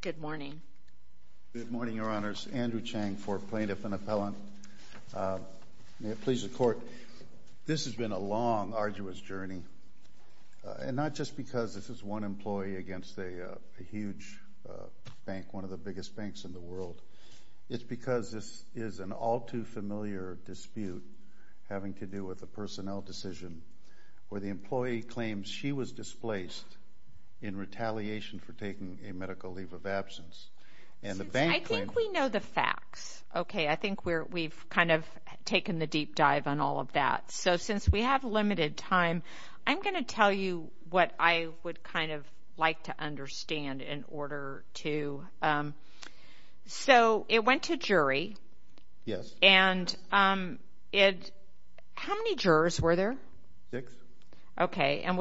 Good morning. Good morning, Your Honors. Andrew Chang for Plaintiff and Appellant. May it please the Court, this has been a long, arduous journey, and not just because this is one employee against a huge bank, one of the biggest banks in the world, it's because this is an all-too-familiar dispute having to do with a personnel decision where the employee claims she was displaced in retaliation for taking a medical leave of absence. I think we know the facts, okay, I think we've kind of taken the deep dive on all of that, so since we have limited time, I'm going to tell you what I would kind of like to understand in order to, so it went to jury, yes, and it, how many jurors were there? Six. Okay, and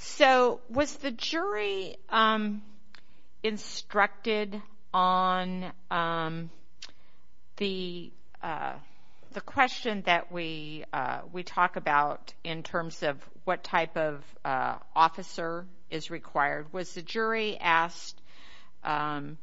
so was the jury instructed on the the question that we we talked about in terms of what type of officer is required? Was the jury asked to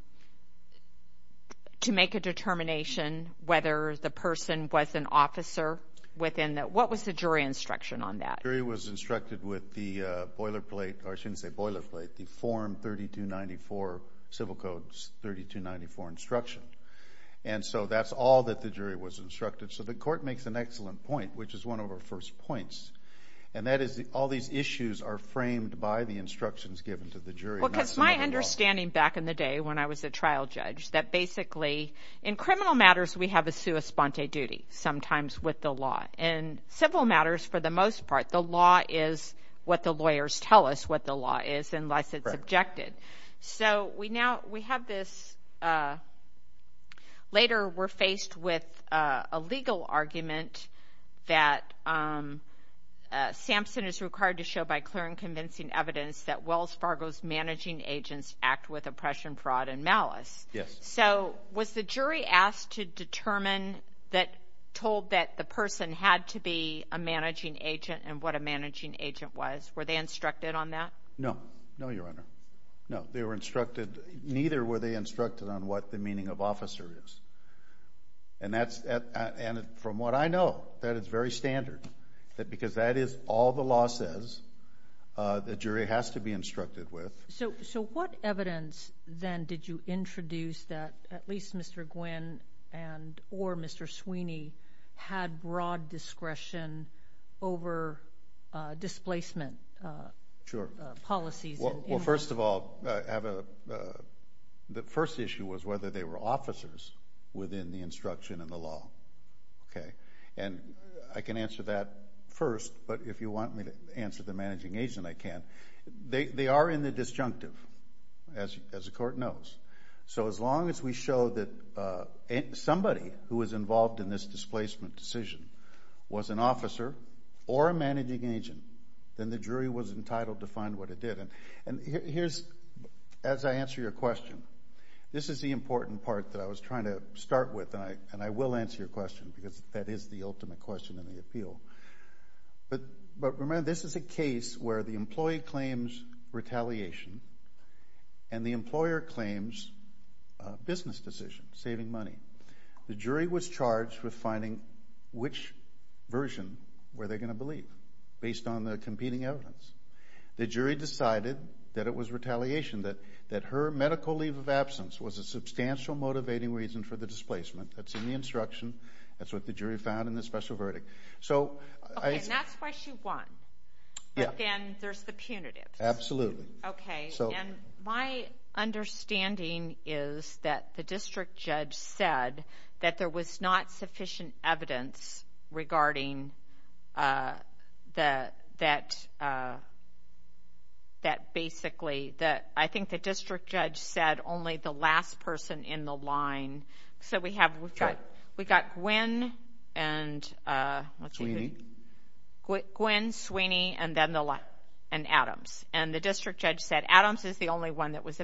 make a determination whether the person was an officer within that, what was the jury instruction on that? The jury was instructed with the boilerplate, or I shouldn't say boilerplate, the Form 3294, Civil Code 3294 instruction, and so that's all that the jury was instructed. So the Court makes an excellent point, which is one of our first points, and that is all these issues are framed by the instructions given to the jury. Because my understanding back in the day when I was a trial judge, that basically in criminal matters we have a sua sponte duty, sometimes with the law. In civil matters, for the most part, the law is what the lawyers tell us what the law is, unless it's objected. So we now, we have this, later we're faced with a legal argument that Samson is required to show by clear and convincing evidence that Wells Fargo's managing agents act with that told that the person had to be a managing agent and what a managing agent was. Were they instructed on that? No, no, Your Honor. No, they were instructed, neither were they instructed on what the meaning of officer is. And that's, and from what I know, that it's very standard. That because that is all the law says, the jury has to be instructed with. So what evidence then did you introduce that at least Mr. Gwinn and or Mr. Sweeney had broad discretion over displacement policies? Well, first of all, the first issue was whether they were officers within the instruction in the law. Okay, and I can answer that first, but if you want me to answer the managing agent, I can. They are in the as we show that somebody who is involved in this displacement decision was an officer or a managing agent, then the jury was entitled to find what it did. And here's, as I answer your question, this is the important part that I was trying to start with, and I will answer your question because that is the ultimate question in the appeal. But remember, this is a case where the business decision, saving money, the jury was charged with finding which version were they going to believe based on the competing evidence. The jury decided that it was retaliation, that her medical leave of absence was a substantial motivating reason for the displacement. That's in the instruction. That's what the jury found in the special verdict. So I... Okay, and that's why she won. But then there's the punitive. Absolutely. Okay, and my understanding is that the district judge said that there was not sufficient evidence regarding that basically, that I think the district judge said only the last person in the and Adams. And the district judge said Adams is the only one that was a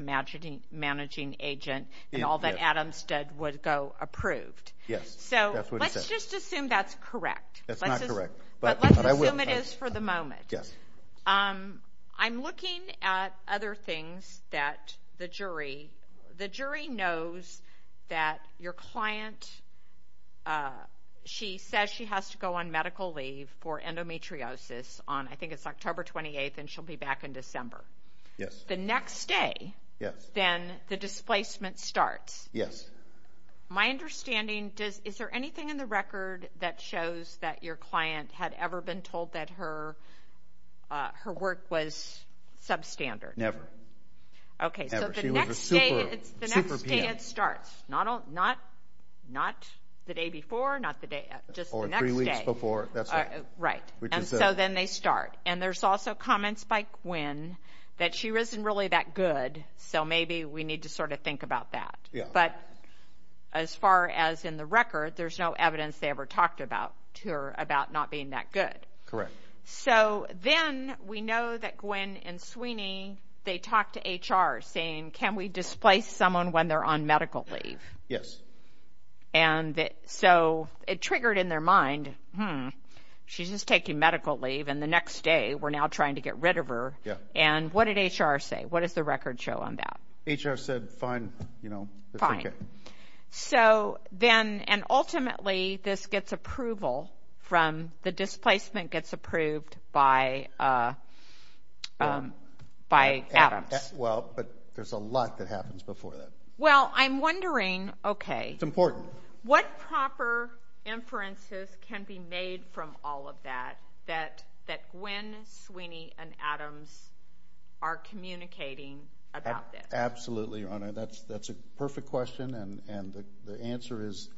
managing agent, and all that Adams did would go approved. Yes. So let's just assume that's correct. That's not correct. But let's assume it is for the moment. Yes. I'm looking at other things that the jury, the jury knows that your client, she says she has to go on medical leave for endometriosis on, I think it's October 28th, and she'll be back in December. Yes. The next day, then the displacement starts. Yes. My understanding, is there anything in the record that shows that your client had ever been told that her work was substandard? Never. Okay, so the next day it starts. Not the day before, not the day, just the next day. Or three weeks before. Right, and so then they start. And there's also comments by Gwen that she wasn't really that good, so maybe we need to sort of think about that. But as far as in the record, there's no evidence they ever talked about to her about not being that good. Correct. So then we know that Gwen and Sweeney, they talked to HR saying, can we displace someone when they're on medical leave? Yes. And so it triggered in their mind, hmm, she's just taking medical leave and the next day we're now trying to get rid of her. Yeah. And what did HR say? What does the record show on that? HR said fine, you know. Fine. So then, and ultimately this gets approval from, the displacement gets approved by Adams. Well, but there's a lot that happens before that. Well, I'm wondering, okay. It's important. What proper inferences can be made from all of that, that Gwen, Sweeney, and Adams are communicating about this? Absolutely, Your Honor. That's a perfect question and the answer is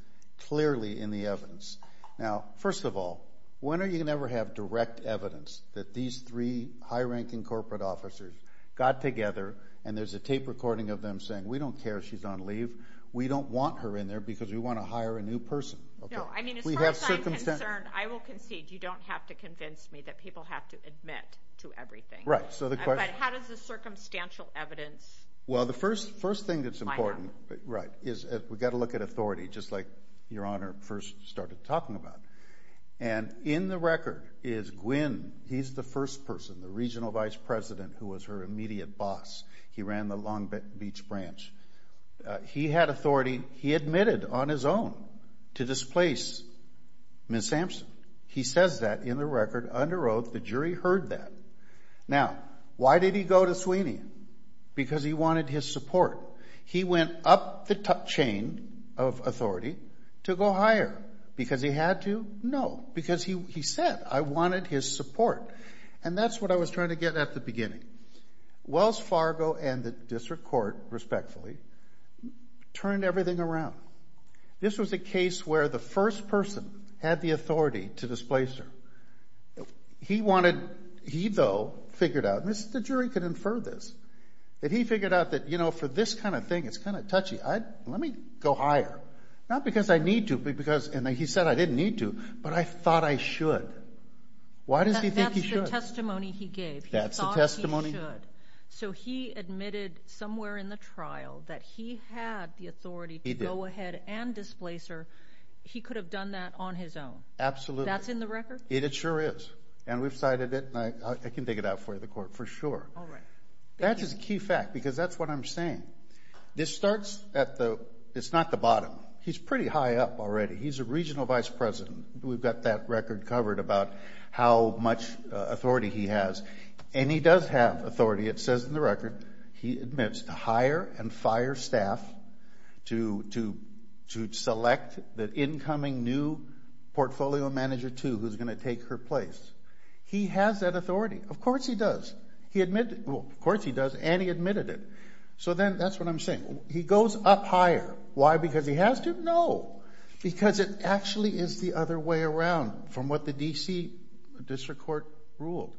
first of all, when are you going to ever have direct evidence that these three high-ranking corporate officers got together and there's a tape recording of them saying, we don't care she's on leave, we don't want her in there because we want to hire a new person. No, I mean, as far as I'm concerned, I will concede, you don't have to convince me that people have to admit to everything. Right, so the question. But how does the circumstantial evidence... Well, the first thing that's important, right, is we've got to look at authority, just like Your Honor first started talking about. And in the record is Gwen, he's the first person, the regional vice president who was her immediate boss. He ran the Long Beach branch. He had authority, he admitted on his own to displace Ms. Sampson. He says that in the record, under oath, the jury heard that. Now, why did he go to Sweeney? Because he wanted his support. He went up the chain of authority to go higher. Because he had to? No, because he said, I wanted his support. And that's what I was trying to get at the beginning. Wells Fargo and the district court, respectfully, turned everything around. This was a case where the first person had the authority to displace her. He wanted... He, though, figured out, and the jury could infer this, that he figured out that, you know, for this kind of thing, it's kind of touchy. Let me go higher. Not because I need to, but because, and he said, I didn't need to, but I thought I should. Why does he think he should? That's the testimony he gave. He thought he should. So he admitted somewhere in the trial that he had the authority to go ahead and displace her. He could have done that on his own. Absolutely. That's in the record? It sure is. And we've cited it, and I can dig it out for you, the court, for sure. All right. That is a key fact, because that's what I'm saying. This starts at the... It's not the bottom. He's pretty high up already. He's a regional vice president. We've got that record covered about how much authority he has. And he does have authority. It says in the record, he admits to hire and fire staff to select the incoming new portfolio manager, too, who's going to take her place. He has that authority. Of course he does. He admitted... Well, of course he does, and he admitted it. So then, that's what I'm saying. He goes up higher. Why? Because he has to? No. Because it actually is the other way around from what the D.C. District Court ruled.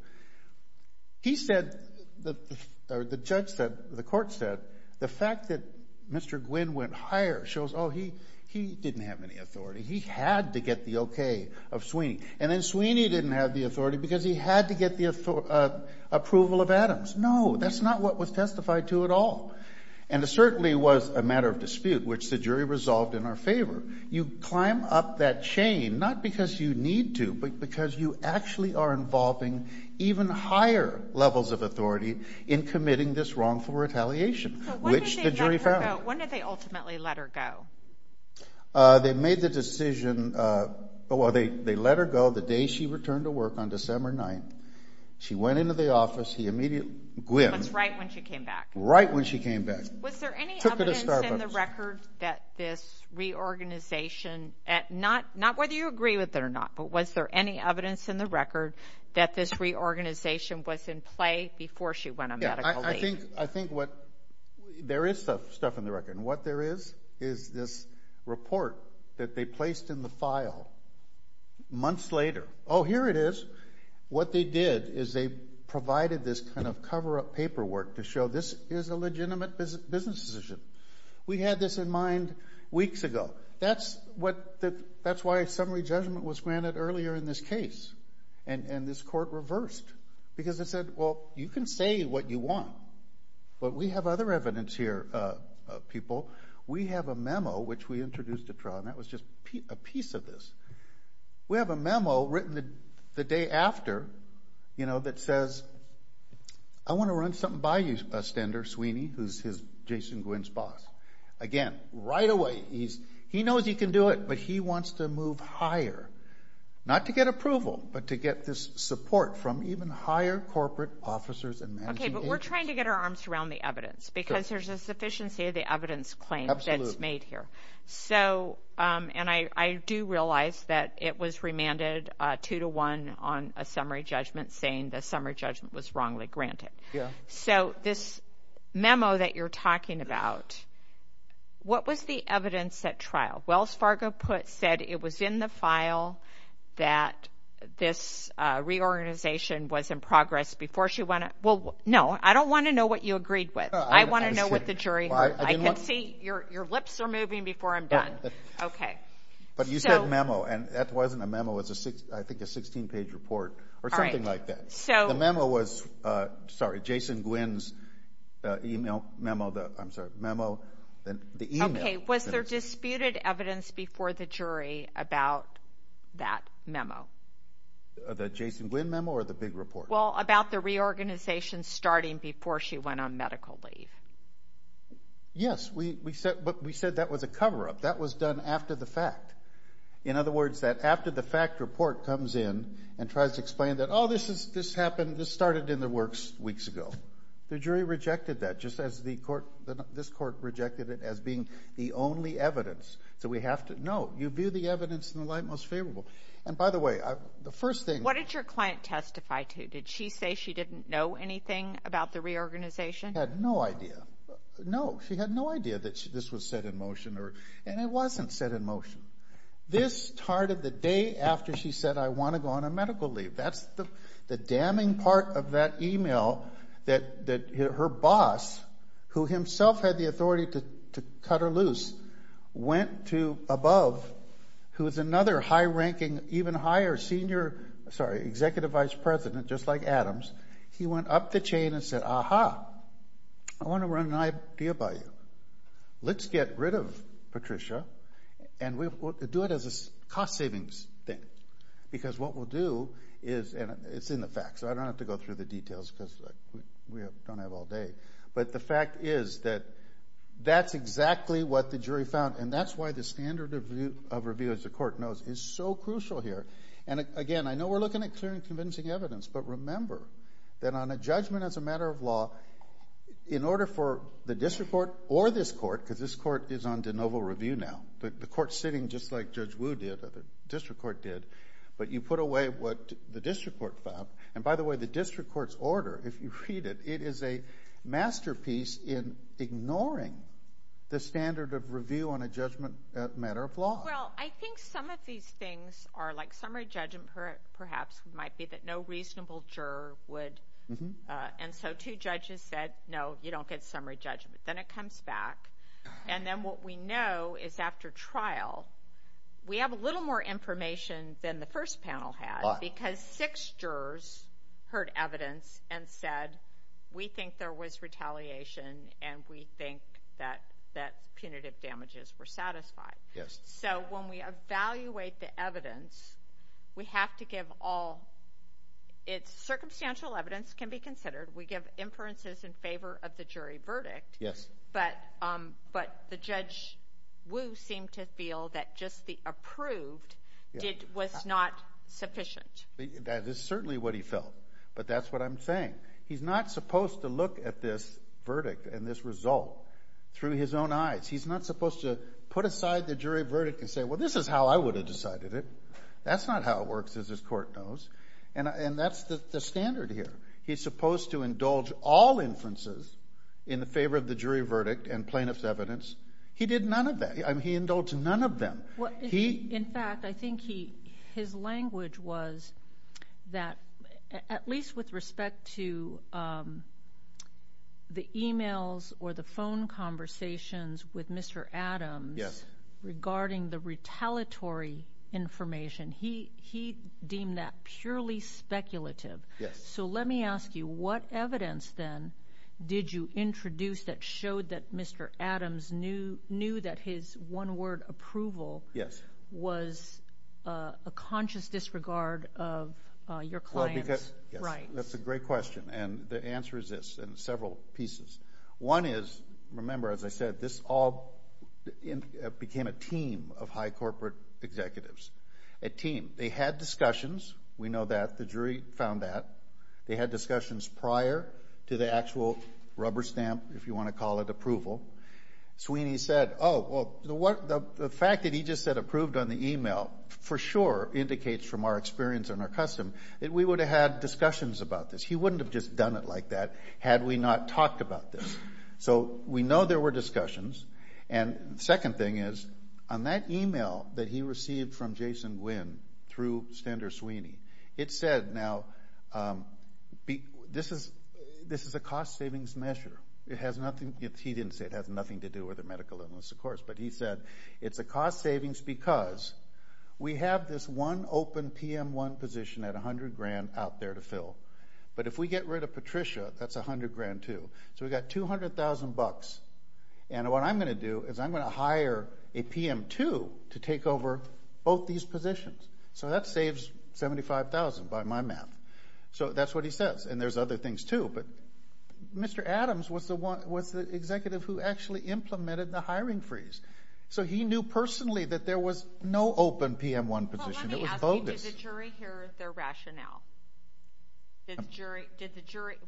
He said, or the judge said, the court said, the fact that Mr. Gwynne went higher shows, oh, he didn't have any authority. He had to get the okay of Sweeney. And then Sweeney didn't have the authority because he had to get the approval of Adams. No, that's not what was testified to at all. And it certainly was a matter of dispute, which the jury resolved in our favor. You climb up that chain, not because you need to, but because you actually are involving even higher levels of authority in committing this wrongful retaliation, which the jury found. So when did they ultimately let her go? They made the decision... Well, they let her go the day she returned to work on December 9th. She went into the office. He immediately... Gwynne... That's right when she came back. Right when she came back. Took her to Starbucks. Was there any evidence in the record that this reorganization... Not whether you agree with it or not, but was there any evidence in the record that this reorganization was in play before she went on medical leave? I think there is stuff in the record. And what there is is this report that they placed in the file months later. Oh, here it is. What they did is they provided this kind of cover-up paperwork to show this is a legitimate business decision. We had this in mind weeks ago. That's why a summary judgment was granted earlier in this case. And this court reversed. Because they said, well, you can say what you want. But we have other evidence here, people. We have a memo, which we introduced at trial, and that was just a piece of this. We have a memo written the day after that says, I want to run something by you, Stender Sweeney, who's Jason Gwynne's boss. Again, right away, he knows he can do it, but he wants to move higher. Not to get approval, but to get this support from even higher corporate officers and managing agents. Okay, but we're trying to get our arms around the evidence, because there's a sufficiency of the evidence claims that's made here. So, and I do realize that it was remanded 2-1 on a summary judgment saying the summary judgment was wrongly granted. So, this memo that you're talking about, what was the evidence at trial? Wells Fargo said it was in the file that this reorganization was in progress before she went. Well, no, I don't want to know what you agreed with. I want to know what the jury heard. I can see your lips are moving before I'm done. Okay. But you said memo, and that wasn't a memo. It was, I think, a 16-page report or something like that. The memo was, sorry, Jason Gwynne's email memo. I'm sorry, the email. Okay, was there disputed evidence before the jury about that memo? The Jason Gwynne memo or the big report? Well, about the reorganization starting before she went on medical leave. Yes, but we said that was a cover-up. That was done after the fact. In other words, that after the fact report comes in and tries to explain that, oh, this happened, this started in the works weeks ago. The jury rejected that just as this court rejected it as being the only evidence. So we have to, no, you view the evidence in the light most favorable. And, by the way, the first thing. What did your client testify to? Did she say she didn't know anything about the reorganization? She had no idea. No, she had no idea that this was set in motion, and it wasn't set in motion. This started the day after she said, I want to go on a medical leave. That's the damning part of that email that her boss, who himself had the authority to cut her loose, went to above, who is another high-ranking, even higher senior, sorry, executive vice president, just like Adams. He went up the chain and said, aha, I want to run an idea by you. Let's get rid of Patricia, and we'll do it as a cost-savings thing. Because what we'll do is, and it's in the facts, so I don't have to go through the details because we don't have all day. But the fact is that that's exactly what the jury found, and that's why the standard of review, as the court knows, is so crucial here. And, again, I know we're looking at clear and convincing evidence, but remember that on a judgment as a matter of law, in order for the district court or this court, because this court is on de novo review now, the court's sitting just like Judge Wu did or the district court did, but you put away what the district court found. And, by the way, the district court's order, if you read it, it is a masterpiece in ignoring the standard of review on a judgment as a matter of law. Well, I think some of these things are like summary judgment perhaps might be that no reasonable juror would. And so two judges said, no, you don't get summary judgment. Then it comes back. And then what we know is after trial, we have a little more information than the first panel had because six jurors heard evidence and said, we think there was retaliation and we think that punitive damages were satisfied. So when we evaluate the evidence, we have to give all. Circumstantial evidence can be considered. We give inferences in favor of the jury verdict. Yes. But the Judge Wu seemed to feel that just the approved was not sufficient. That is certainly what he felt. But that's what I'm saying. He's not supposed to look at this verdict and this result through his own eyes. He's not supposed to put aside the jury verdict and say, well, this is how I would have decided it. That's not how it works, as this court knows. And that's the standard here. He's supposed to indulge all inferences in favor of the jury verdict and plaintiff's evidence. He did none of that. He indulged none of them. In fact, I think his language was that at least with respect to the e-mails or the phone conversations with Mr. Adams regarding the retaliatory information, he deemed that purely speculative. Yes. So let me ask you, what evidence then did you introduce that showed that Mr. Adams knew that his one-word approval was a conscious disregard of your client's rights? That's a great question, and the answer is this in several pieces. One is, remember, as I said, this all became a team of high corporate executives. A team. They had discussions. We know that. The jury found that. They had discussions prior to the actual rubber stamp, if you want to call it approval. Sweeney said, oh, well, the fact that he just said approved on the e-mail for sure indicates from our experience and our custom that we would have had discussions about this. He wouldn't have just done it like that had we not talked about this. So we know there were discussions. And the second thing is, on that e-mail that he received from Jason Gwynne through Stender Sweeney, it said, now, this is a cost savings measure. He didn't say it has nothing to do with a medical illness, of course, but he said it's a cost savings because we have this one open PM1 position at $100,000 out there to fill. But if we get rid of Patricia, that's $100,000 too. So we've got $200,000. And what I'm going to do is I'm going to hire a PM2 to take over both these positions. So that saves $75,000 by my math. So that's what he says. And there's other things too. But Mr. Adams was the executive who actually implemented the hiring freeze. So he knew personally that there was no open PM1 position. It was bogus. Well, let me ask you, did the jury hear their rationale?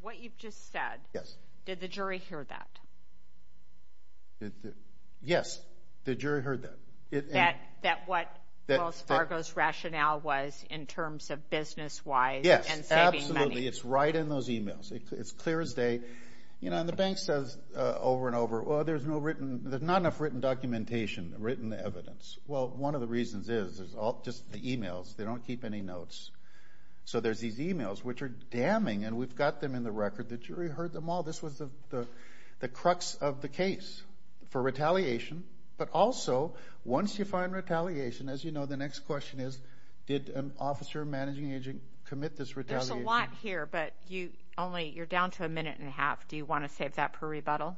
What you've just said. Yes. Did the jury hear that? Yes, the jury heard that. That what Wells Fargo's rationale was in terms of business-wise and saving money. Yes, absolutely. It's right in those emails. It's clear as day. You know, and the bank says over and over, well, there's not enough written documentation, written evidence. Well, one of the reasons is just the emails. They don't keep any notes. So there's these emails, which are damning, and we've got them in the record. The jury heard them all. This was the crux of the case for retaliation. But also, once you find retaliation, as you know, the next question is, did an officer managing agent commit this retaliation? There's a lot here, but you're down to a minute and a half. Do you want to save that per rebuttal?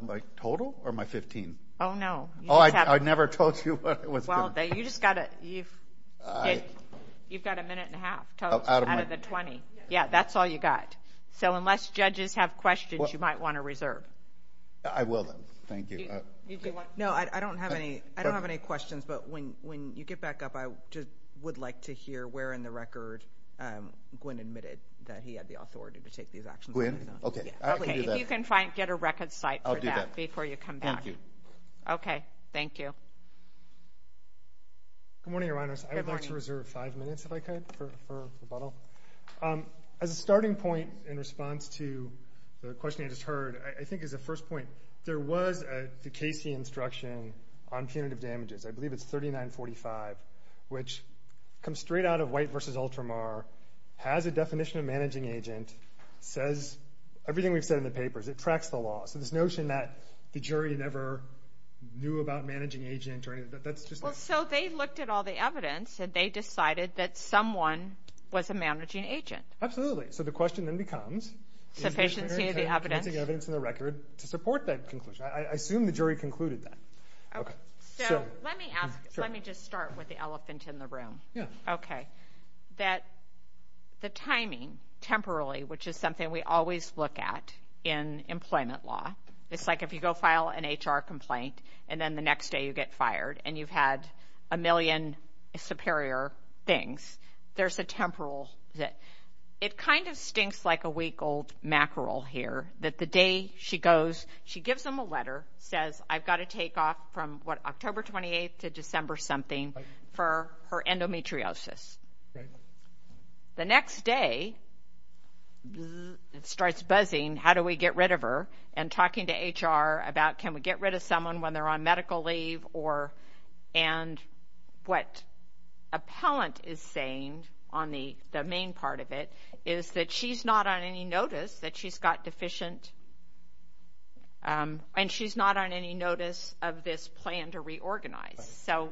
My total or my $15,000? Oh, no. Oh, I never told you what it was going to be. Well, you've got a minute and a half out of the 20. Yeah, that's all you got. So unless judges have questions, you might want to reserve. I will, then. Thank you. No, I don't have any questions, but when you get back up, I would like to hear where in the record Gwen admitted that he had the authority to take these actions. Gwen? Okay, I can do that. If you can get a record site for that before you come back. I'll do that. Thank you. Okay. Thank you. Good morning, Your Honors. Good morning. I would like to reserve five minutes, if I could, for rebuttal. As a starting point in response to the question I just heard, I think as a first point, there was the Casey instruction on punitive damages. I believe it's 3945, which comes straight out of White v. Ultramar, has a definition of managing agent, says everything we've said in the papers. It tracks the law. So this notion that the jury never knew about managing agent or anything, that's just not. Well, so they looked at all the evidence, and they decided that someone was a managing agent. Absolutely. So the question then becomes. Sufficiency of the evidence. Convincing evidence in the record to support that conclusion. I assume the jury concluded that. Okay. So let me ask, let me just start with the elephant in the room. Yeah. Okay. That the timing, temporarily, which is something we always look at in employment law. It's like if you go file an HR complaint, and then the next day you get fired, and you've had a million superior things. There's a temporal. It kind of stinks like a week-old mackerel here, that the day she goes, she gives him a letter, says, I've got to take off from, what, October 28th to December something for her endometriosis. Right. The next day, it starts buzzing. How do we get rid of her? And talking to HR about, can we get rid of someone when they're on medical leave? And what appellant is saying on the main part of it is that she's not on any notice that she's got deficient, and she's not on any notice of this plan to reorganize. So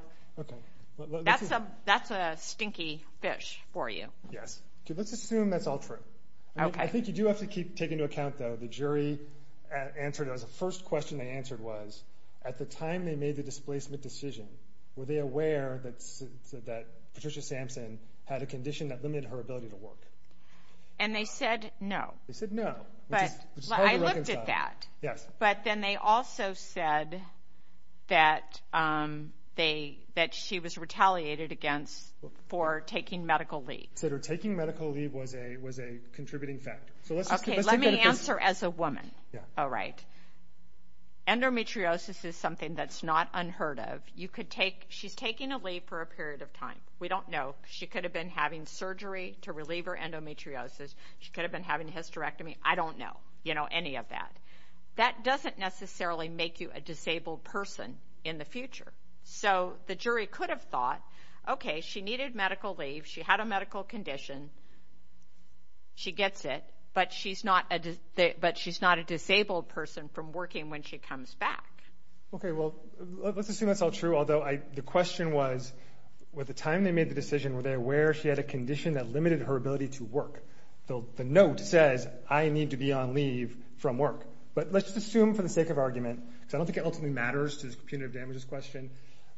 that's a stinky fish for you. Yes. Let's assume that's all true. Okay. I think you do have to take into account, though, the jury answered, the first question they answered was, at the time they made the displacement decision, were they aware that Patricia Sampson had a condition that limited her ability to work? And they said no. They said no. Which is hard to reconcile. I looked at that. Yes. But then they also said that she was retaliated against for taking medical leave. Said her taking medical leave was a contributing factor. Okay, let me answer as a woman. Yeah. All right. Endometriosis is something that's not unheard of. She's taking a leave for a period of time. We don't know. She could have been having surgery to relieve her endometriosis. She could have been having a hysterectomy. I don't know, you know, any of that. That doesn't necessarily make you a disabled person in the future. So the jury could have thought, okay, she needed medical leave, she had a medical condition, she gets it, but she's not a disabled person from working when she comes back. Okay, well, let's assume that's all true. Although the question was, at the time they made the decision, were they aware she had a condition that limited her ability to work? The note says, I need to be on leave from work. But let's assume, for the sake of argument, because I don't think it ultimately matters to the punitive damages question,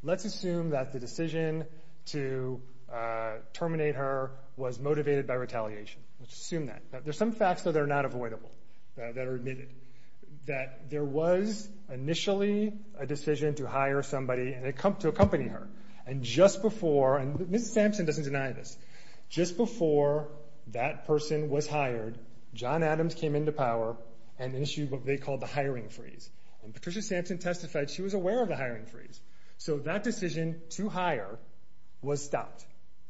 let's assume that the decision to terminate her was motivated by retaliation. Let's assume that. There's some facts that are not avoidable that are admitted. That there was initially a decision to hire somebody to accompany her. And just before, and Ms. Sampson doesn't deny this, just before that person was hired, John Adams came into power and issued what they called the hiring freeze. And Patricia Sampson testified she was aware of the hiring freeze. So that decision to hire was stopped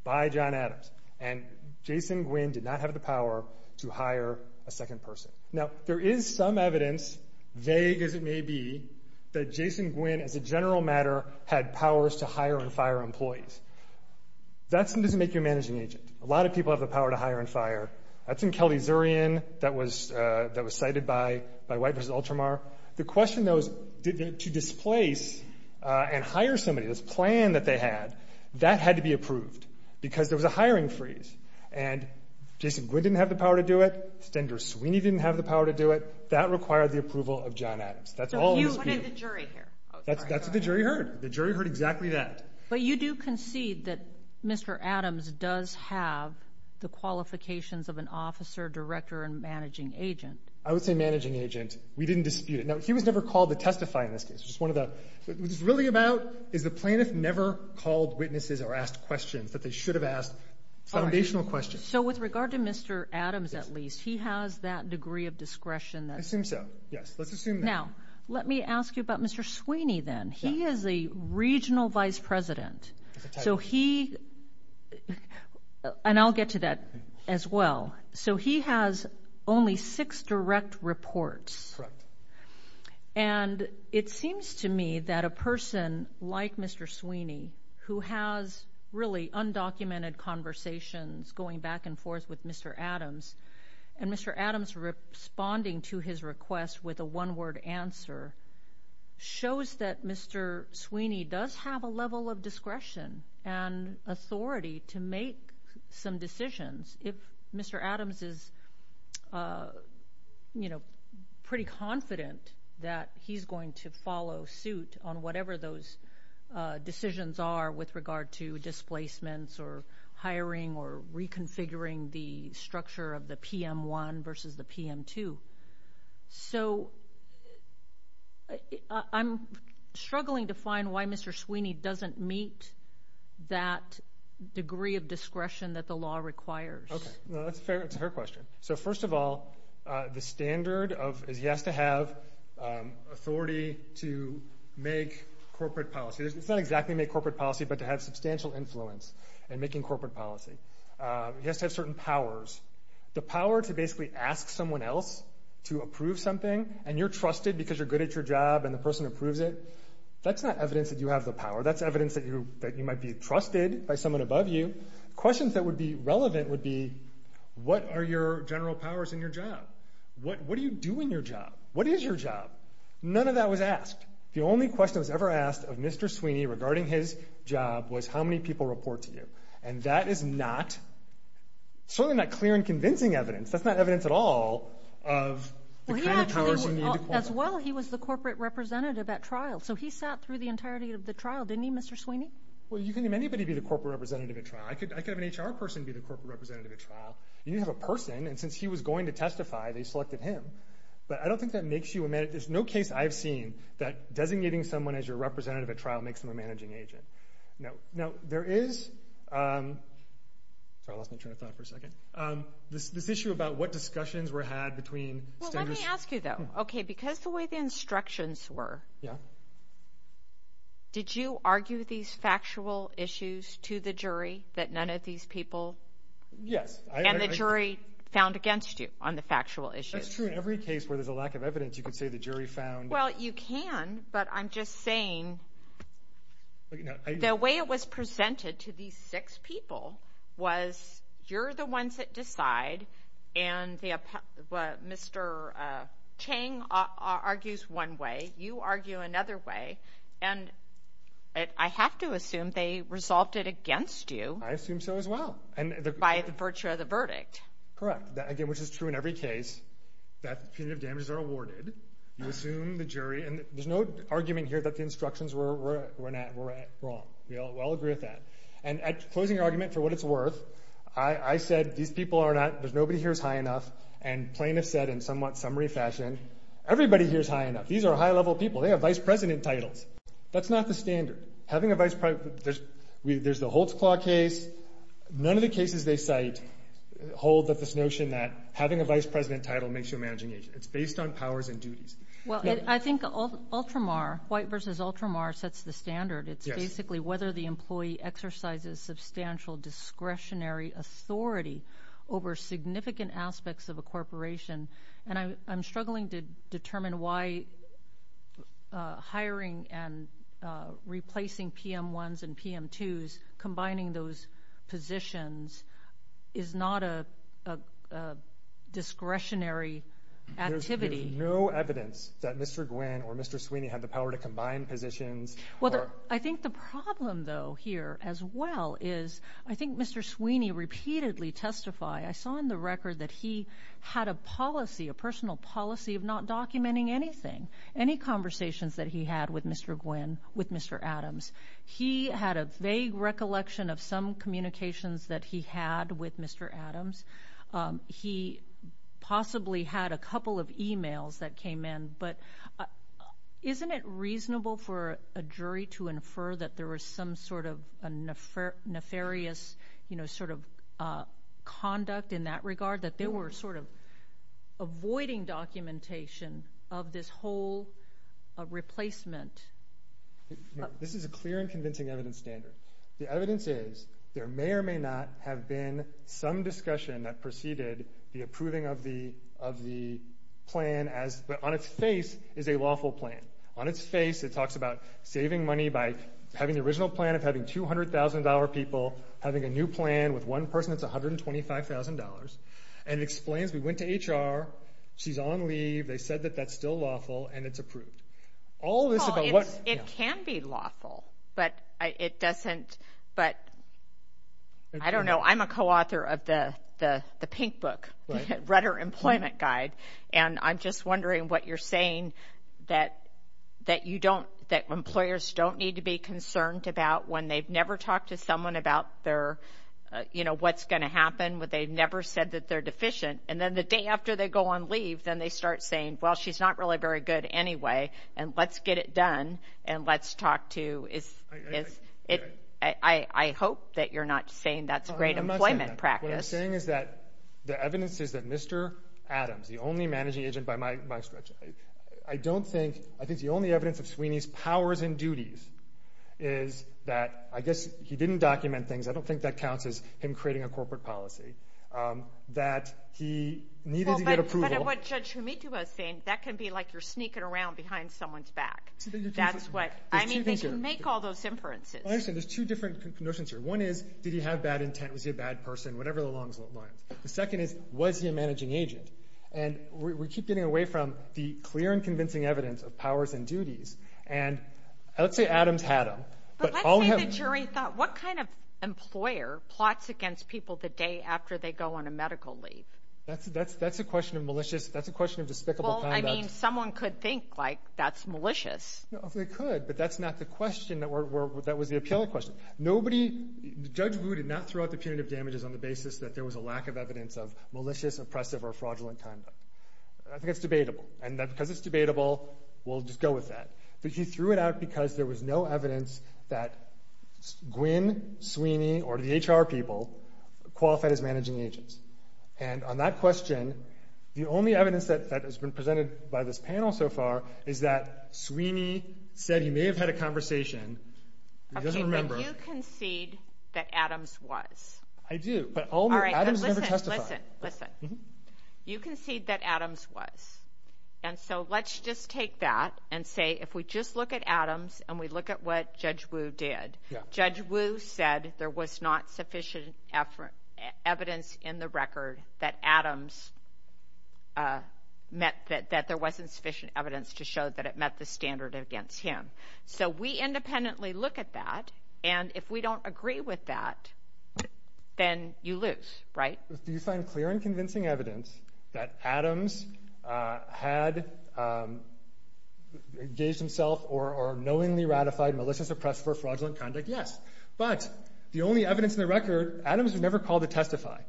by John Adams. And Jason Gwynn did not have the power to hire a second person. Now, there is some evidence, vague as it may be, that Jason Gwynn, as a general matter, had powers to hire and fire employees. That doesn't make you a managing agent. A lot of people have the power to hire and fire. That's in Kelly-Zurian that was cited by White v. Ultramar. The question, though, is to displace and hire somebody, this plan that they had, that had to be approved because there was a hiring freeze. And Jason Gwynn didn't have the power to do it. Stender Sweeney didn't have the power to do it. That required the approval of John Adams. That's all of his people. Sotomayor, what did the jury hear? That's what the jury heard. The jury heard exactly that. But you do concede that Mr. Adams does have the qualifications of an officer, director, and managing agent. I would say managing agent. We didn't dispute it. Now, he was never called to testify in this case. What it's really about is the plaintiff never called witnesses or asked questions that they should have asked foundational questions. So with regard to Mr. Adams, at least, he has that degree of discretion. I assume so, yes. Let's assume that. Now, let me ask you about Mr. Sweeney then. He is a regional vice president. And I'll get to that as well. So he has only six direct reports. Correct. And it seems to me that a person like Mr. Sweeney, who has really undocumented conversations going back and forth with Mr. Adams, and Mr. Adams responding to his request with a one-word answer, shows that Mr. Sweeney does have a level of discretion and authority to make some decisions if Mr. Adams is pretty confident that he's going to follow suit on whatever those decisions are with regard to displacements or hiring or reconfiguring the structure of the PM1 versus the PM2. So I'm struggling to find why Mr. Sweeney doesn't meet that degree of discretion that the law requires. That's a fair question. So first of all, the standard is he has to have authority to make corporate policy. It's not exactly make corporate policy, but to have substantial influence in making corporate policy. He has to have certain powers. The power to basically ask someone else to approve something, and you're trusted because you're good at your job and the person approves it, that's not evidence that you have the power. That's evidence that you might be trusted by someone above you. Questions that would be relevant would be, what are your general powers in your job? What do you do in your job? What is your job? None of that was asked. The only question that was ever asked of Mr. Sweeney regarding his job was how many people report to you. And that is certainly not clear and convincing evidence. That's not evidence at all of the kind of powers you need to qualify. As well, he was the corporate representative at trial. So he sat through the entirety of the trial, didn't he, Mr. Sweeney? Well, you can name anybody to be the corporate representative at trial. I could have an HR person be the corporate representative at trial. You need to have a person, and since he was going to testify, they selected him. But I don't think that makes you a manager. There's no case I've seen that designating someone as your representative at trial makes them a managing agent. Now, there is this issue about what discussions were had between standards. Well, let me ask you, though. Okay, because of the way the instructions were, did you argue these factual issues to the jury that none of these people? Yes. And the jury found against you on the factual issues? That's true in every case where there's a lack of evidence. You could say the jury found. Well, you can, but I'm just saying. The way it was presented to these six people was you're the ones that decide, and Mr. Chang argues one way, you argue another way, and I have to assume they resolved it against you. I assume so as well. By virtue of the verdict. Correct, again, which is true in every case that punitive damages are awarded. You assume the jury, and there's no argument here that the instructions were wrong. We all agree with that. And closing argument for what it's worth, I said these people are not, nobody here is high enough, and plaintiffs said in somewhat summary fashion, everybody here is high enough. These are high-level people. They have vice president titles. That's not the standard. Having a vice president, there's the Holtzclaw case. None of the cases they cite hold this notion that having a vice president title makes you a managing agent. It's based on powers and duties. Well, I think Ultramar, White v. Ultramar sets the standard. Yes. It's basically whether the employee exercises substantial discretionary authority over significant aspects of a corporation, and I'm struggling to determine why hiring and replacing PM1s and PM2s, and combining those positions is not a discretionary activity. There's no evidence that Mr. Gwynne or Mr. Sweeney had the power to combine positions. Well, I think the problem, though, here as well is I think Mr. Sweeney repeatedly testified. I saw in the record that he had a policy, a personal policy of not documenting anything, any conversations that he had with Mr. Gwynne, with Mr. Adams. He had a vague recollection of some communications that he had with Mr. Adams. He possibly had a couple of e-mails that came in, but isn't it reasonable for a jury to infer that there was some sort of nefarious, you know, sort of conduct in that regard, that they were sort of avoiding documentation of this whole replacement? This is a clear and convincing evidence standard. The evidence is there may or may not have been some discussion that preceded the approving of the plan, but on its face is a lawful plan. On its face it talks about saving money by having the original plan of having $200,000 people, having a new plan with one person that's $125,000, and it explains we went to HR, she's on leave, they said that that's still lawful, and it's approved. It can be lawful, but it doesn't, but I don't know. I'm a co-author of the pink book, Rudder Employment Guide, and I'm just wondering what you're saying that you don't, that employers don't need to be concerned about when they've never talked to someone about their, you know, what's going to happen, when they've never said that they're deficient, and then the day after they go on leave, then they start saying, well, she's not really very good anyway, and let's get it done, and let's talk to, I hope that you're not saying that's a great employment practice. What I'm saying is that the evidence is that Mr. Adams, the only managing agent by my stretch, I don't think, I think the only evidence of Sweeney's powers and duties is that, I guess he didn't document things, I don't think that counts as him creating a corporate policy, that he needed to get approval. But what Judge Humito was saying, that can be like you're sneaking around behind someone's back. That's what, I mean, they can make all those inferences. I understand, there's two different notions here. One is, did he have bad intent, was he a bad person, whatever the long lines. The second is, was he a managing agent? And we keep getting away from the clear and convincing evidence of powers and duties, and let's say Adams had them. But let's say the jury thought, what kind of employer plots against people the day after they go on a medical leave? That's a question of malicious, that's a question of despicable conduct. Well, I mean, someone could think, like, that's malicious. They could, but that's not the question, that was the appellate question. Nobody, Judge Wu did not throw out the punitive damages on the basis that there was a lack of evidence of malicious, oppressive, or fraudulent conduct. I think that's debatable. And because it's debatable, we'll just go with that. But he threw it out because there was no evidence that Gwynne, Sweeney, or the HR people qualified as managing agents. And on that question, the only evidence that has been presented by this panel so far is that Sweeney said he may have had a conversation, but he doesn't remember. Okay, but you concede that Adams was. I do, but Adams never testified. All right, but listen, listen, listen. You concede that Adams was. And so let's just take that and say if we just look at Adams and we look at what Judge Wu did, Judge Wu said there was not sufficient evidence in the record that Adams met, that there wasn't sufficient evidence to show that it met the standard against him. So we independently look at that, and if we don't agree with that, then you lose, right? Do you find clear and convincing evidence that Adams had engaged himself or knowingly ratified, maliciously oppressed for fraudulent conduct? Yes. But the only evidence in the record, Adams never called to testify.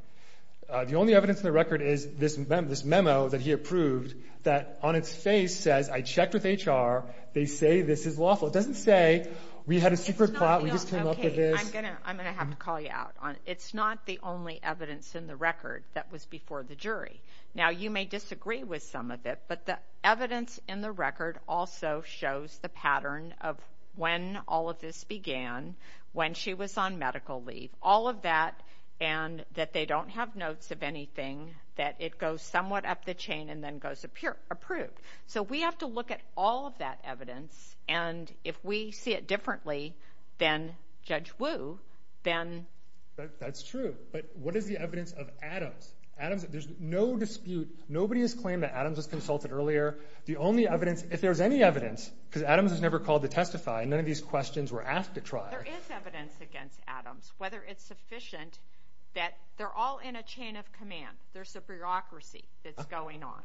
The only evidence in the record is this memo that he approved that on its face says, I checked with HR, they say this is lawful. It doesn't say we had a secret plot, we just came up with this. I'm going to have to call you out on it. It's not the only evidence in the record that was before the jury. Now, you may disagree with some of it, but the evidence in the record also shows the pattern of when all of this began, when she was on medical leave, all of that, and that they don't have notes of anything, that it goes somewhat up the chain and then goes approved. So we have to look at all of that evidence, and if we see it differently than Judge Wu, then... But what is the evidence of Adams? Adams, there's no dispute, nobody has claimed that Adams was consulted earlier. The only evidence, if there's any evidence, because Adams was never called to testify, none of these questions were asked at trial. There is evidence against Adams, whether it's sufficient that they're all in a chain of command. There's a bureaucracy that's going on.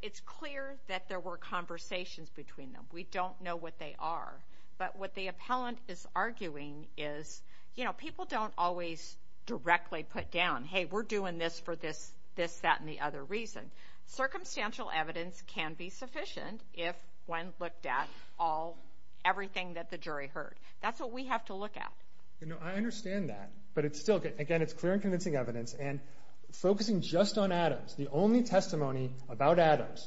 It's clear that there were conversations between them. We don't know what they are. But what the appellant is arguing is, you know, people don't always directly put down, hey, we're doing this for this, that, and the other reason. Circumstantial evidence can be sufficient if one looked at all, everything that the jury heard. That's what we have to look at. I understand that, but it's still, again, it's clear and convincing evidence. And focusing just on Adams, the only testimony about Adams,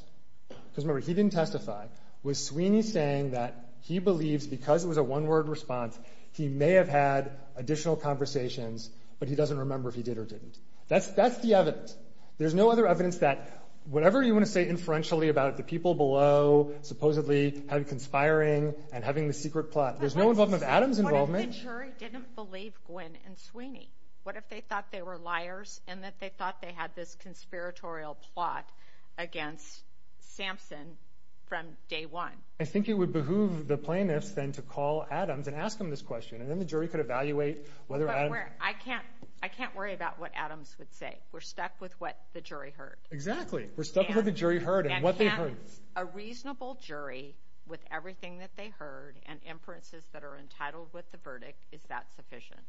because remember, he didn't testify, was Sweeney saying that he believes, because it was a one-word response, he may have had additional conversations, but he doesn't remember if he did or didn't. That's the evidence. There's no other evidence that, whatever you want to say inferentially about the people below supposedly conspiring and having the secret plot, there's no involvement of Adams' involvement. What if the jury didn't believe Gwynne and Sweeney? What if they thought they were liars and that they thought they had this conspiratorial plot against Sampson from day one? I think it would behoove the plaintiffs then to call Adams and ask him this question, and then the jury could evaluate whether Adams. But I can't worry about what Adams would say. We're stuck with what the jury heard. Exactly. We're stuck with what the jury heard and what they heard. And can a reasonable jury, with everything that they heard and inferences that are entitled with the verdict, is that sufficient?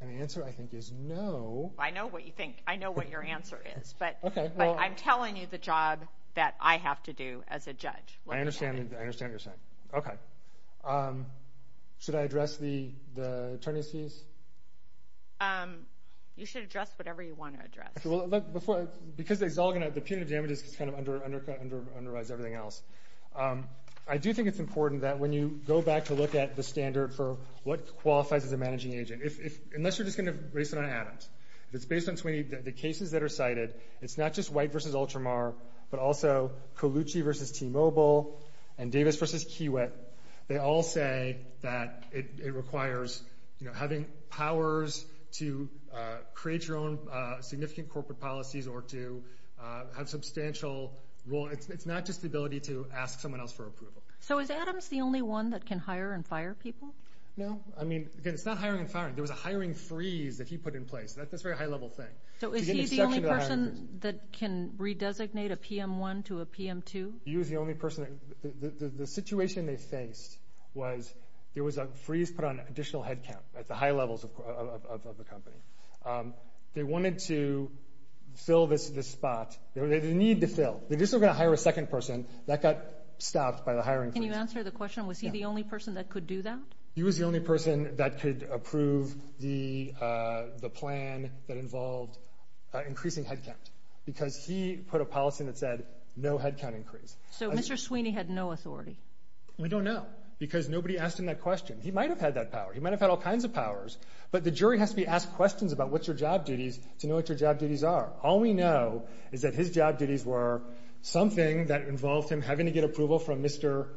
And the answer, I think, is no. I know what you think. I know what your answer is. But I'm telling you the job that I have to do as a judge. I understand what you're saying. Okay. Should I address the attorney's fees? You should address whatever you want to address. Because the punitive damages kind of under-undervise everything else. I do think it's important that when you go back to look at the standard for what qualifies as a managing agent, unless you're just going to base it on Adams, if it's based on Sweeney, the cases that are cited, it's not just White v. Ultramar, but also Colucci v. T-Mobile and Davis v. Kiewit. They all say that it requires having powers to create your own significant corporate policies or to have substantial role. It's not just the ability to ask someone else for approval. So is Adams the only one that can hire and fire people? No. I mean, again, it's not hiring and firing. There was a hiring freeze that he put in place. That's a very high-level thing. So is he the only person that can redesignate a PM1 to a PM2? He was the only person. The situation they faced was there was a freeze put on additional headcount at the high levels of the company. They wanted to fill this spot. They didn't need to fill. They just were going to hire a second person. That got stopped by the hiring freeze. Can you answer the question? Was he the only person that could do that? He was the only person that could approve the plan that involved increasing headcount because he put a policy that said no headcount increase. So Mr. Sweeney had no authority? We don't know because nobody asked him that question. He might have had that power. He might have had all kinds of powers, but the jury has to be asked questions about what your job duties to know what your job duties are. All we know is that his job duties were something that involved him having to get approval from Mr.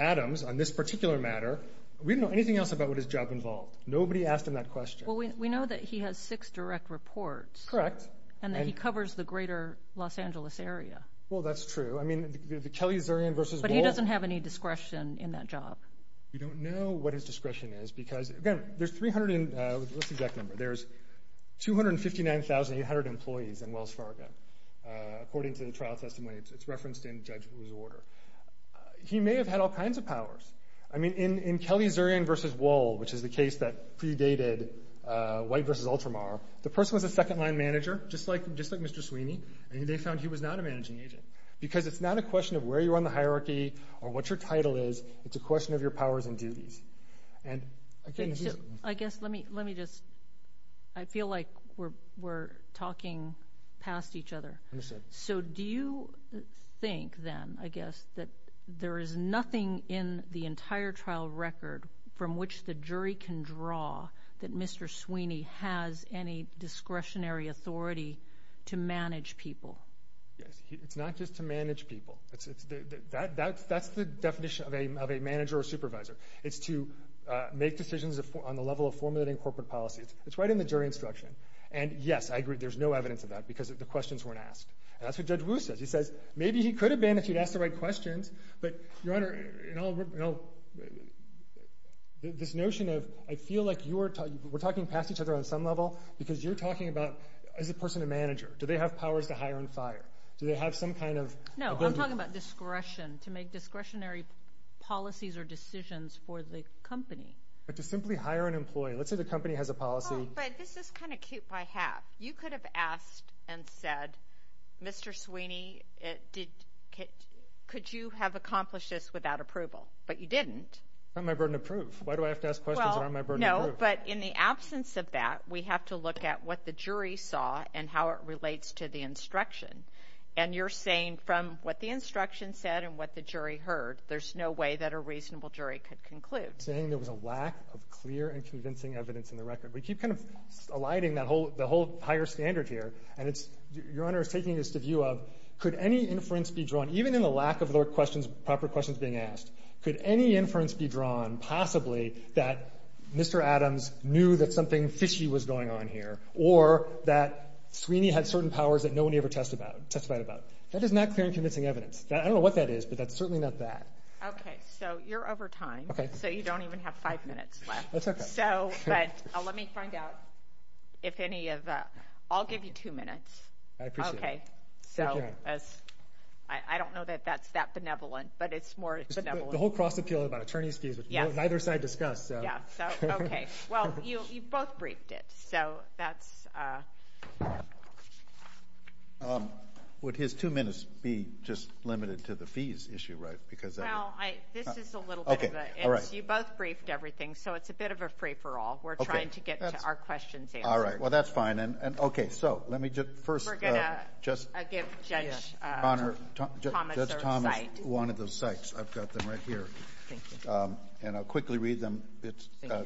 Adams on this particular matter. We don't know anything else about what his job involved. Nobody asked him that question. Well, we know that he has six direct reports. Correct. And that he covers the greater Los Angeles area. Well, that's true. I mean, the Kelly-Zurian versus Bull. But he doesn't have any discretion in that job. We don't know what his discretion is because, again, there's 300 in the list exact number. There's 259,800 employees in Wells Fargo. According to the trial testimony, it's referenced in the judge's order. He may have had all kinds of powers. I mean, in Kelly-Zurian versus Wall, which is the case that predated White versus Ultramar, the person was a second-line manager, just like Mr. Sweeney, and they found he was not a managing agent because it's not a question of where you are in the hierarchy or what your title is. It's a question of your powers and duties. I guess let me just – I feel like we're talking past each other. So do you think then, I guess, that there is nothing in the entire trial record from which the jury can draw that Mr. Sweeney has any discretionary authority to manage people? It's not just to manage people. That's the definition of a manager or supervisor. It's to make decisions on the level of formulating corporate policies. It's right in the jury instruction. And, yes, I agree, there's no evidence of that because the questions weren't asked. And that's what Judge Wu says. He says maybe he could have been if he'd asked the right questions, but, Your Honor, this notion of I feel like we're talking past each other on some level because you're talking about is a person a manager? Do they have powers to hire and fire? Do they have some kind of ability? No, I'm talking about discretion, to make discretionary policies or decisions for the company. But to simply hire an employee. Let's say the company has a policy. But this is kind of cute by half. You could have asked and said, Mr. Sweeney, could you have accomplished this without approval? But you didn't. It's not my burden to prove. Why do I have to ask questions that aren't my burden to prove? No, but in the absence of that, we have to look at what the jury saw and how it relates to the instruction. And you're saying from what the instruction said and what the jury heard, there's no way that a reasonable jury could conclude. Saying there was a lack of clear and convincing evidence in the record. We keep kind of alighting the whole higher standard here. And Your Honor is taking this to view of could any inference be drawn, even in the lack of proper questions being asked, could any inference be drawn possibly that Mr. Adams knew that something fishy was going on here or that Sweeney had certain powers that no one ever testified about. That is not clear and convincing evidence. I don't know what that is, but that's certainly not that. Okay. So you're over time. So you don't even have five minutes left. That's okay. But let me find out if any of that. I'll give you two minutes. I appreciate it. Okay. Thank you. I don't know that that's that benevolent, but it's more benevolent. The whole cross appeal about attorney's fees, which neither side discussed. Yeah. Okay. Well, you both briefed it. So that's. Would his two minutes be just limited to the fees issue? Right. Because this is a little bit. Okay. All right. You both briefed everything. So it's a bit of a free for all. We're trying to get to our questions. All right. Well, that's fine. And okay. So let me just first. I give Judge Thomas one of those sites. I've got them right here. Thank you. And I'll quickly read them.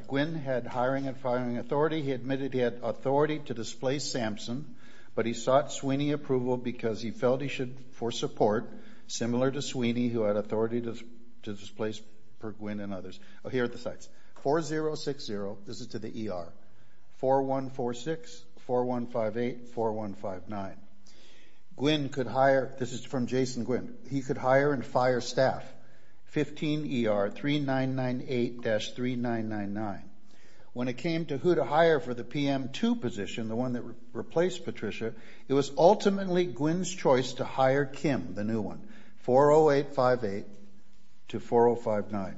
Gwen had hiring and firing authority. He admitted he had authority to displace Samson, but he sought Sweeney approval because he felt he should for support, similar to Sweeney who had authority to displace Perquin and others. Here are the sites. 4060, this is to the ER. 4146, 4158, 4159. Gwen could hire. This is from Jason Gwen. He could hire and fire staff. 15ER, 3998-3999. When it came to who to hire for the PM2 position, the one that replaced Patricia, it was ultimately Gwen's choice to hire Kim, the new one, 40858-4059.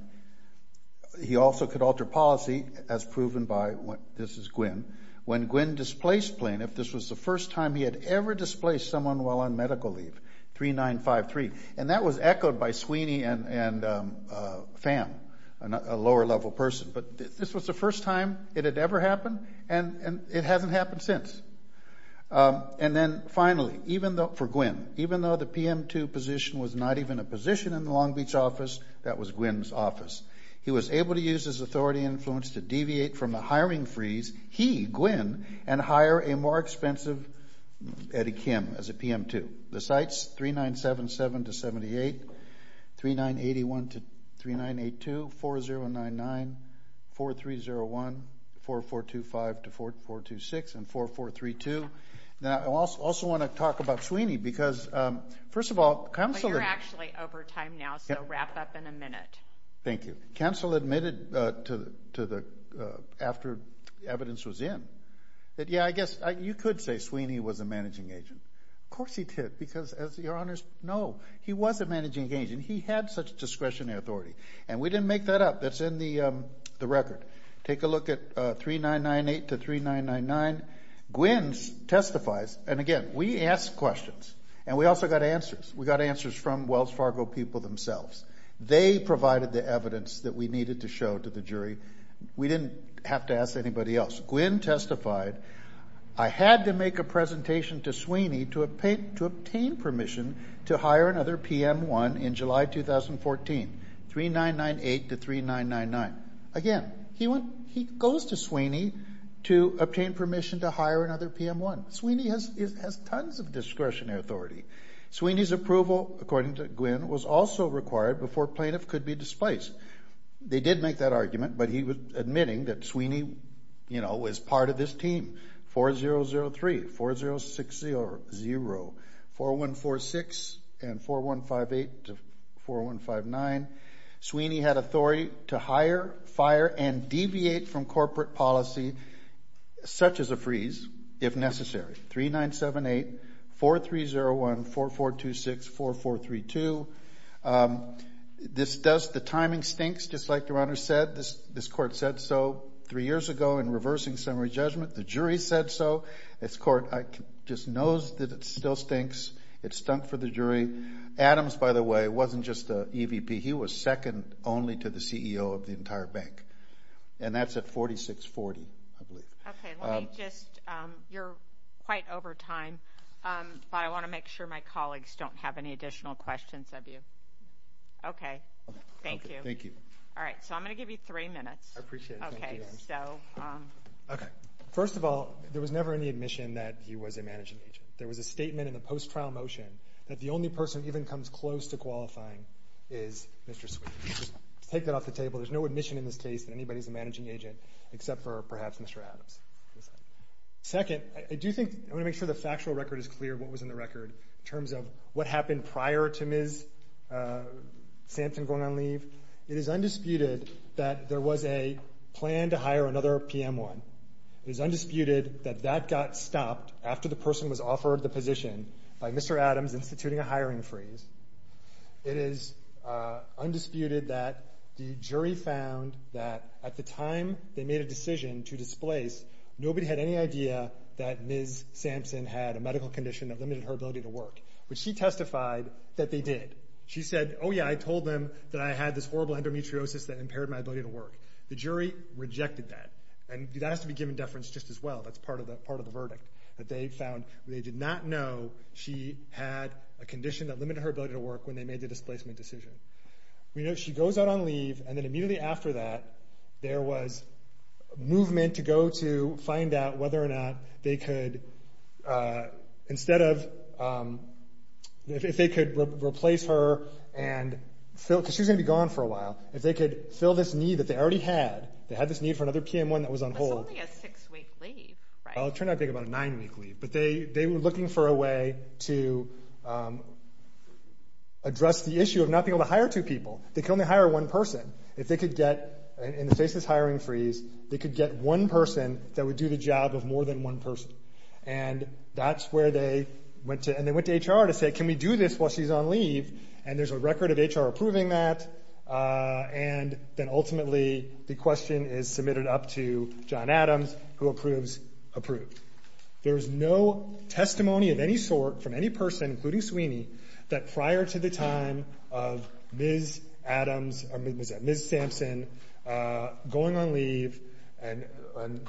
He also could alter policy as proven by, this is Gwen, when Gwen displaced Blaine, if this was the first time he had ever displaced someone while on medical leave, 3953. And that was echoed by Sweeney and Pham, a lower level person. But this was the first time it had ever happened, and it hasn't happened since. And then, finally, for Gwen, even though the PM2 position was not even a position in the Long Beach office, that was Gwen's office. He was able to use his authority and influence to deviate from the hiring freeze, he, Gwen, and hire a more expensive Eddie Kim as a PM2. The sites, 3977-78, 3981-3982, 4099, 4301, 4425-426, and 4432. Now, I also want to talk about Sweeney because, first of all, counsel admitted to the, after evidence was in, that, yeah, I guess you could say Sweeney was a managing agent. Of course he did because, as your honors know, he was a managing agent. He had such discretionary authority, and we didn't make that up. That's in the record. Take a look at 3998-3999. Gwen testifies, and, again, we asked questions, and we also got answers. We got answers from Wells Fargo people themselves. They provided the evidence that we needed to show to the jury. We didn't have to ask anybody else. Gwen testified. I had to make a presentation to Sweeney to obtain permission to hire another PM1 in July 2014, 3998-3999. Again, he goes to Sweeney to obtain permission to hire another PM1. Sweeney has tons of discretionary authority. Sweeney's approval, according to Gwen, was also required before a plaintiff could be displaced. They did make that argument, but he was admitting that Sweeney was part of this team. 4003, 4060, 4146, and 4158 to 4159. Sweeney had authority to hire, fire, and deviate from corporate policy, such as a freeze, if necessary. 3978, 4301, 4426, 4432. This does the timing stinks, just like the runner said. This court said so three years ago in reversing summary judgment. The jury said so. This court just knows that it still stinks. It stunk for the jury. Adams, by the way, wasn't just an EVP. He was second only to the CEO of the entire bank, and that's at 4640, I believe. Okay. Okay, thank you. Thank you. All right, so I'm going to give you three minutes. I appreciate it. Okay, so. Okay. First of all, there was never any admission that he was a managing agent. There was a statement in the post-trial motion that the only person who even comes close to qualifying is Mr. Sweeney. Just to take that off the table, there's no admission in this case that anybody's a managing agent except for perhaps Mr. Adams. Second, I do think I want to make sure the factual record is clear of what was in the record in terms of what happened prior to Ms. Sampson going on leave. It is undisputed that there was a plan to hire another PM1. It is undisputed that that got stopped after the person was offered the position by Mr. Adams instituting a hiring freeze. It is undisputed that the jury found that at the time they made a decision to displace, nobody had any idea that Ms. Sampson had a medical condition that limited her ability to work, but she testified that they did. She said, oh, yeah, I told them that I had this horrible endometriosis that impaired my ability to work. The jury rejected that, and that has to be given deference just as well. That's part of the verdict that they found. They did not know she had a condition that limited her ability to work when they made the displacement decision. We know she goes out on leave, and then immediately after that, there was movement to go to find out whether or not they could, instead of if they could replace her and fill, because she was going to be gone for a while, if they could fill this need that they already had, they had this need for another PM1 that was on hold. It's only a six-week leave, right? It turned out to be about a nine-week leave, but they were looking for a way to address the issue of not being able to hire two people. They could only hire one person. If they could get, in the face of this hiring freeze, they could get one person that would do the job of more than one person, and that's where they went to HR to say, can we do this while she's on leave, and there's a record of HR approving that, and then ultimately the question is submitted up to John Adams, who approves, approved. There is no testimony of any sort from any person, including Sweeney, that prior to the time of Ms. Adams, or Ms. Sampson going on leave and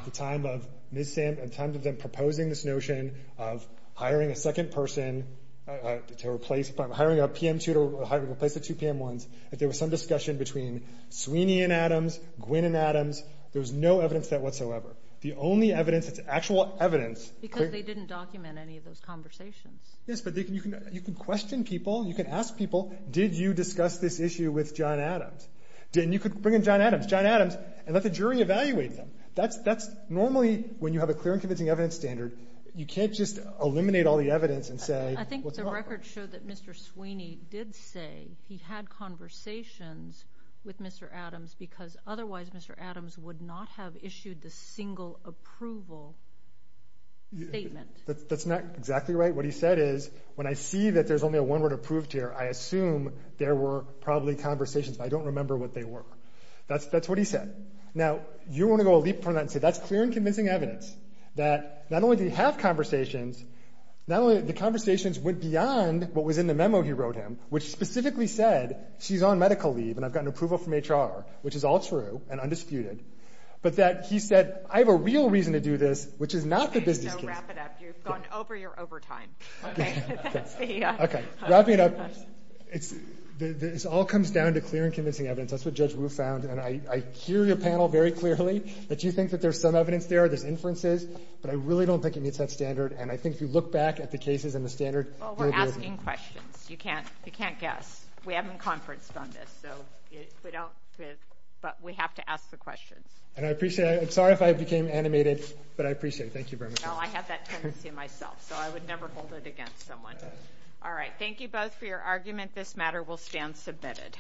the time of Ms. Sampson proposing this notion of hiring a second person to replace, hiring a PM2 to replace the two PM1s, if there was some discussion between Sweeney and Adams, Gwyn and Adams, there was no evidence of that whatsoever. The only evidence that's actual evidence. Because they didn't document any of those conversations. Yes, but you can question people. You can ask people, did you discuss this issue with John Adams? And you could bring in John Adams, John Adams, and let the jury evaluate them. That's normally, when you have a clear and convincing evidence standard, you can't just eliminate all the evidence and say, I think the record showed that Mr. Sweeney did say he had conversations with Mr. Adams because otherwise Mr. Adams would not have issued the single approval statement. That's not exactly right. What he said is, when I see that there's only a one word approved here, I assume there were probably conversations, but I don't remember what they were. That's what he said. Now, you want to go a leap from that and say that's clear and convincing evidence, that not only do you have conversations, the conversations went beyond what was in the memo he wrote him, which specifically said, she's on medical leave and I've gotten approval from HR, which is all true and undisputed, but that he said, I have a real reason to do this, which is not the business case. So wrap it up. You've gone over your overtime. Okay. Okay. Wrapping it up, this all comes down to clear and convincing evidence. That's what Judge Wu found. And I hear your panel very clearly, that you think that there's some evidence there, there's inferences, but I really don't think it meets that standard, and I think if you look back at the cases and the standard. Well, we're asking questions. You can't guess. We haven't conferenced on this, but we have to ask the questions. And I appreciate it. I'm sorry if I became animated, but I appreciate it. Thank you very much. No, I have that tendency myself, so I would never hold it against someone. All right. Thank you both for your argument. This matter will stand submitted.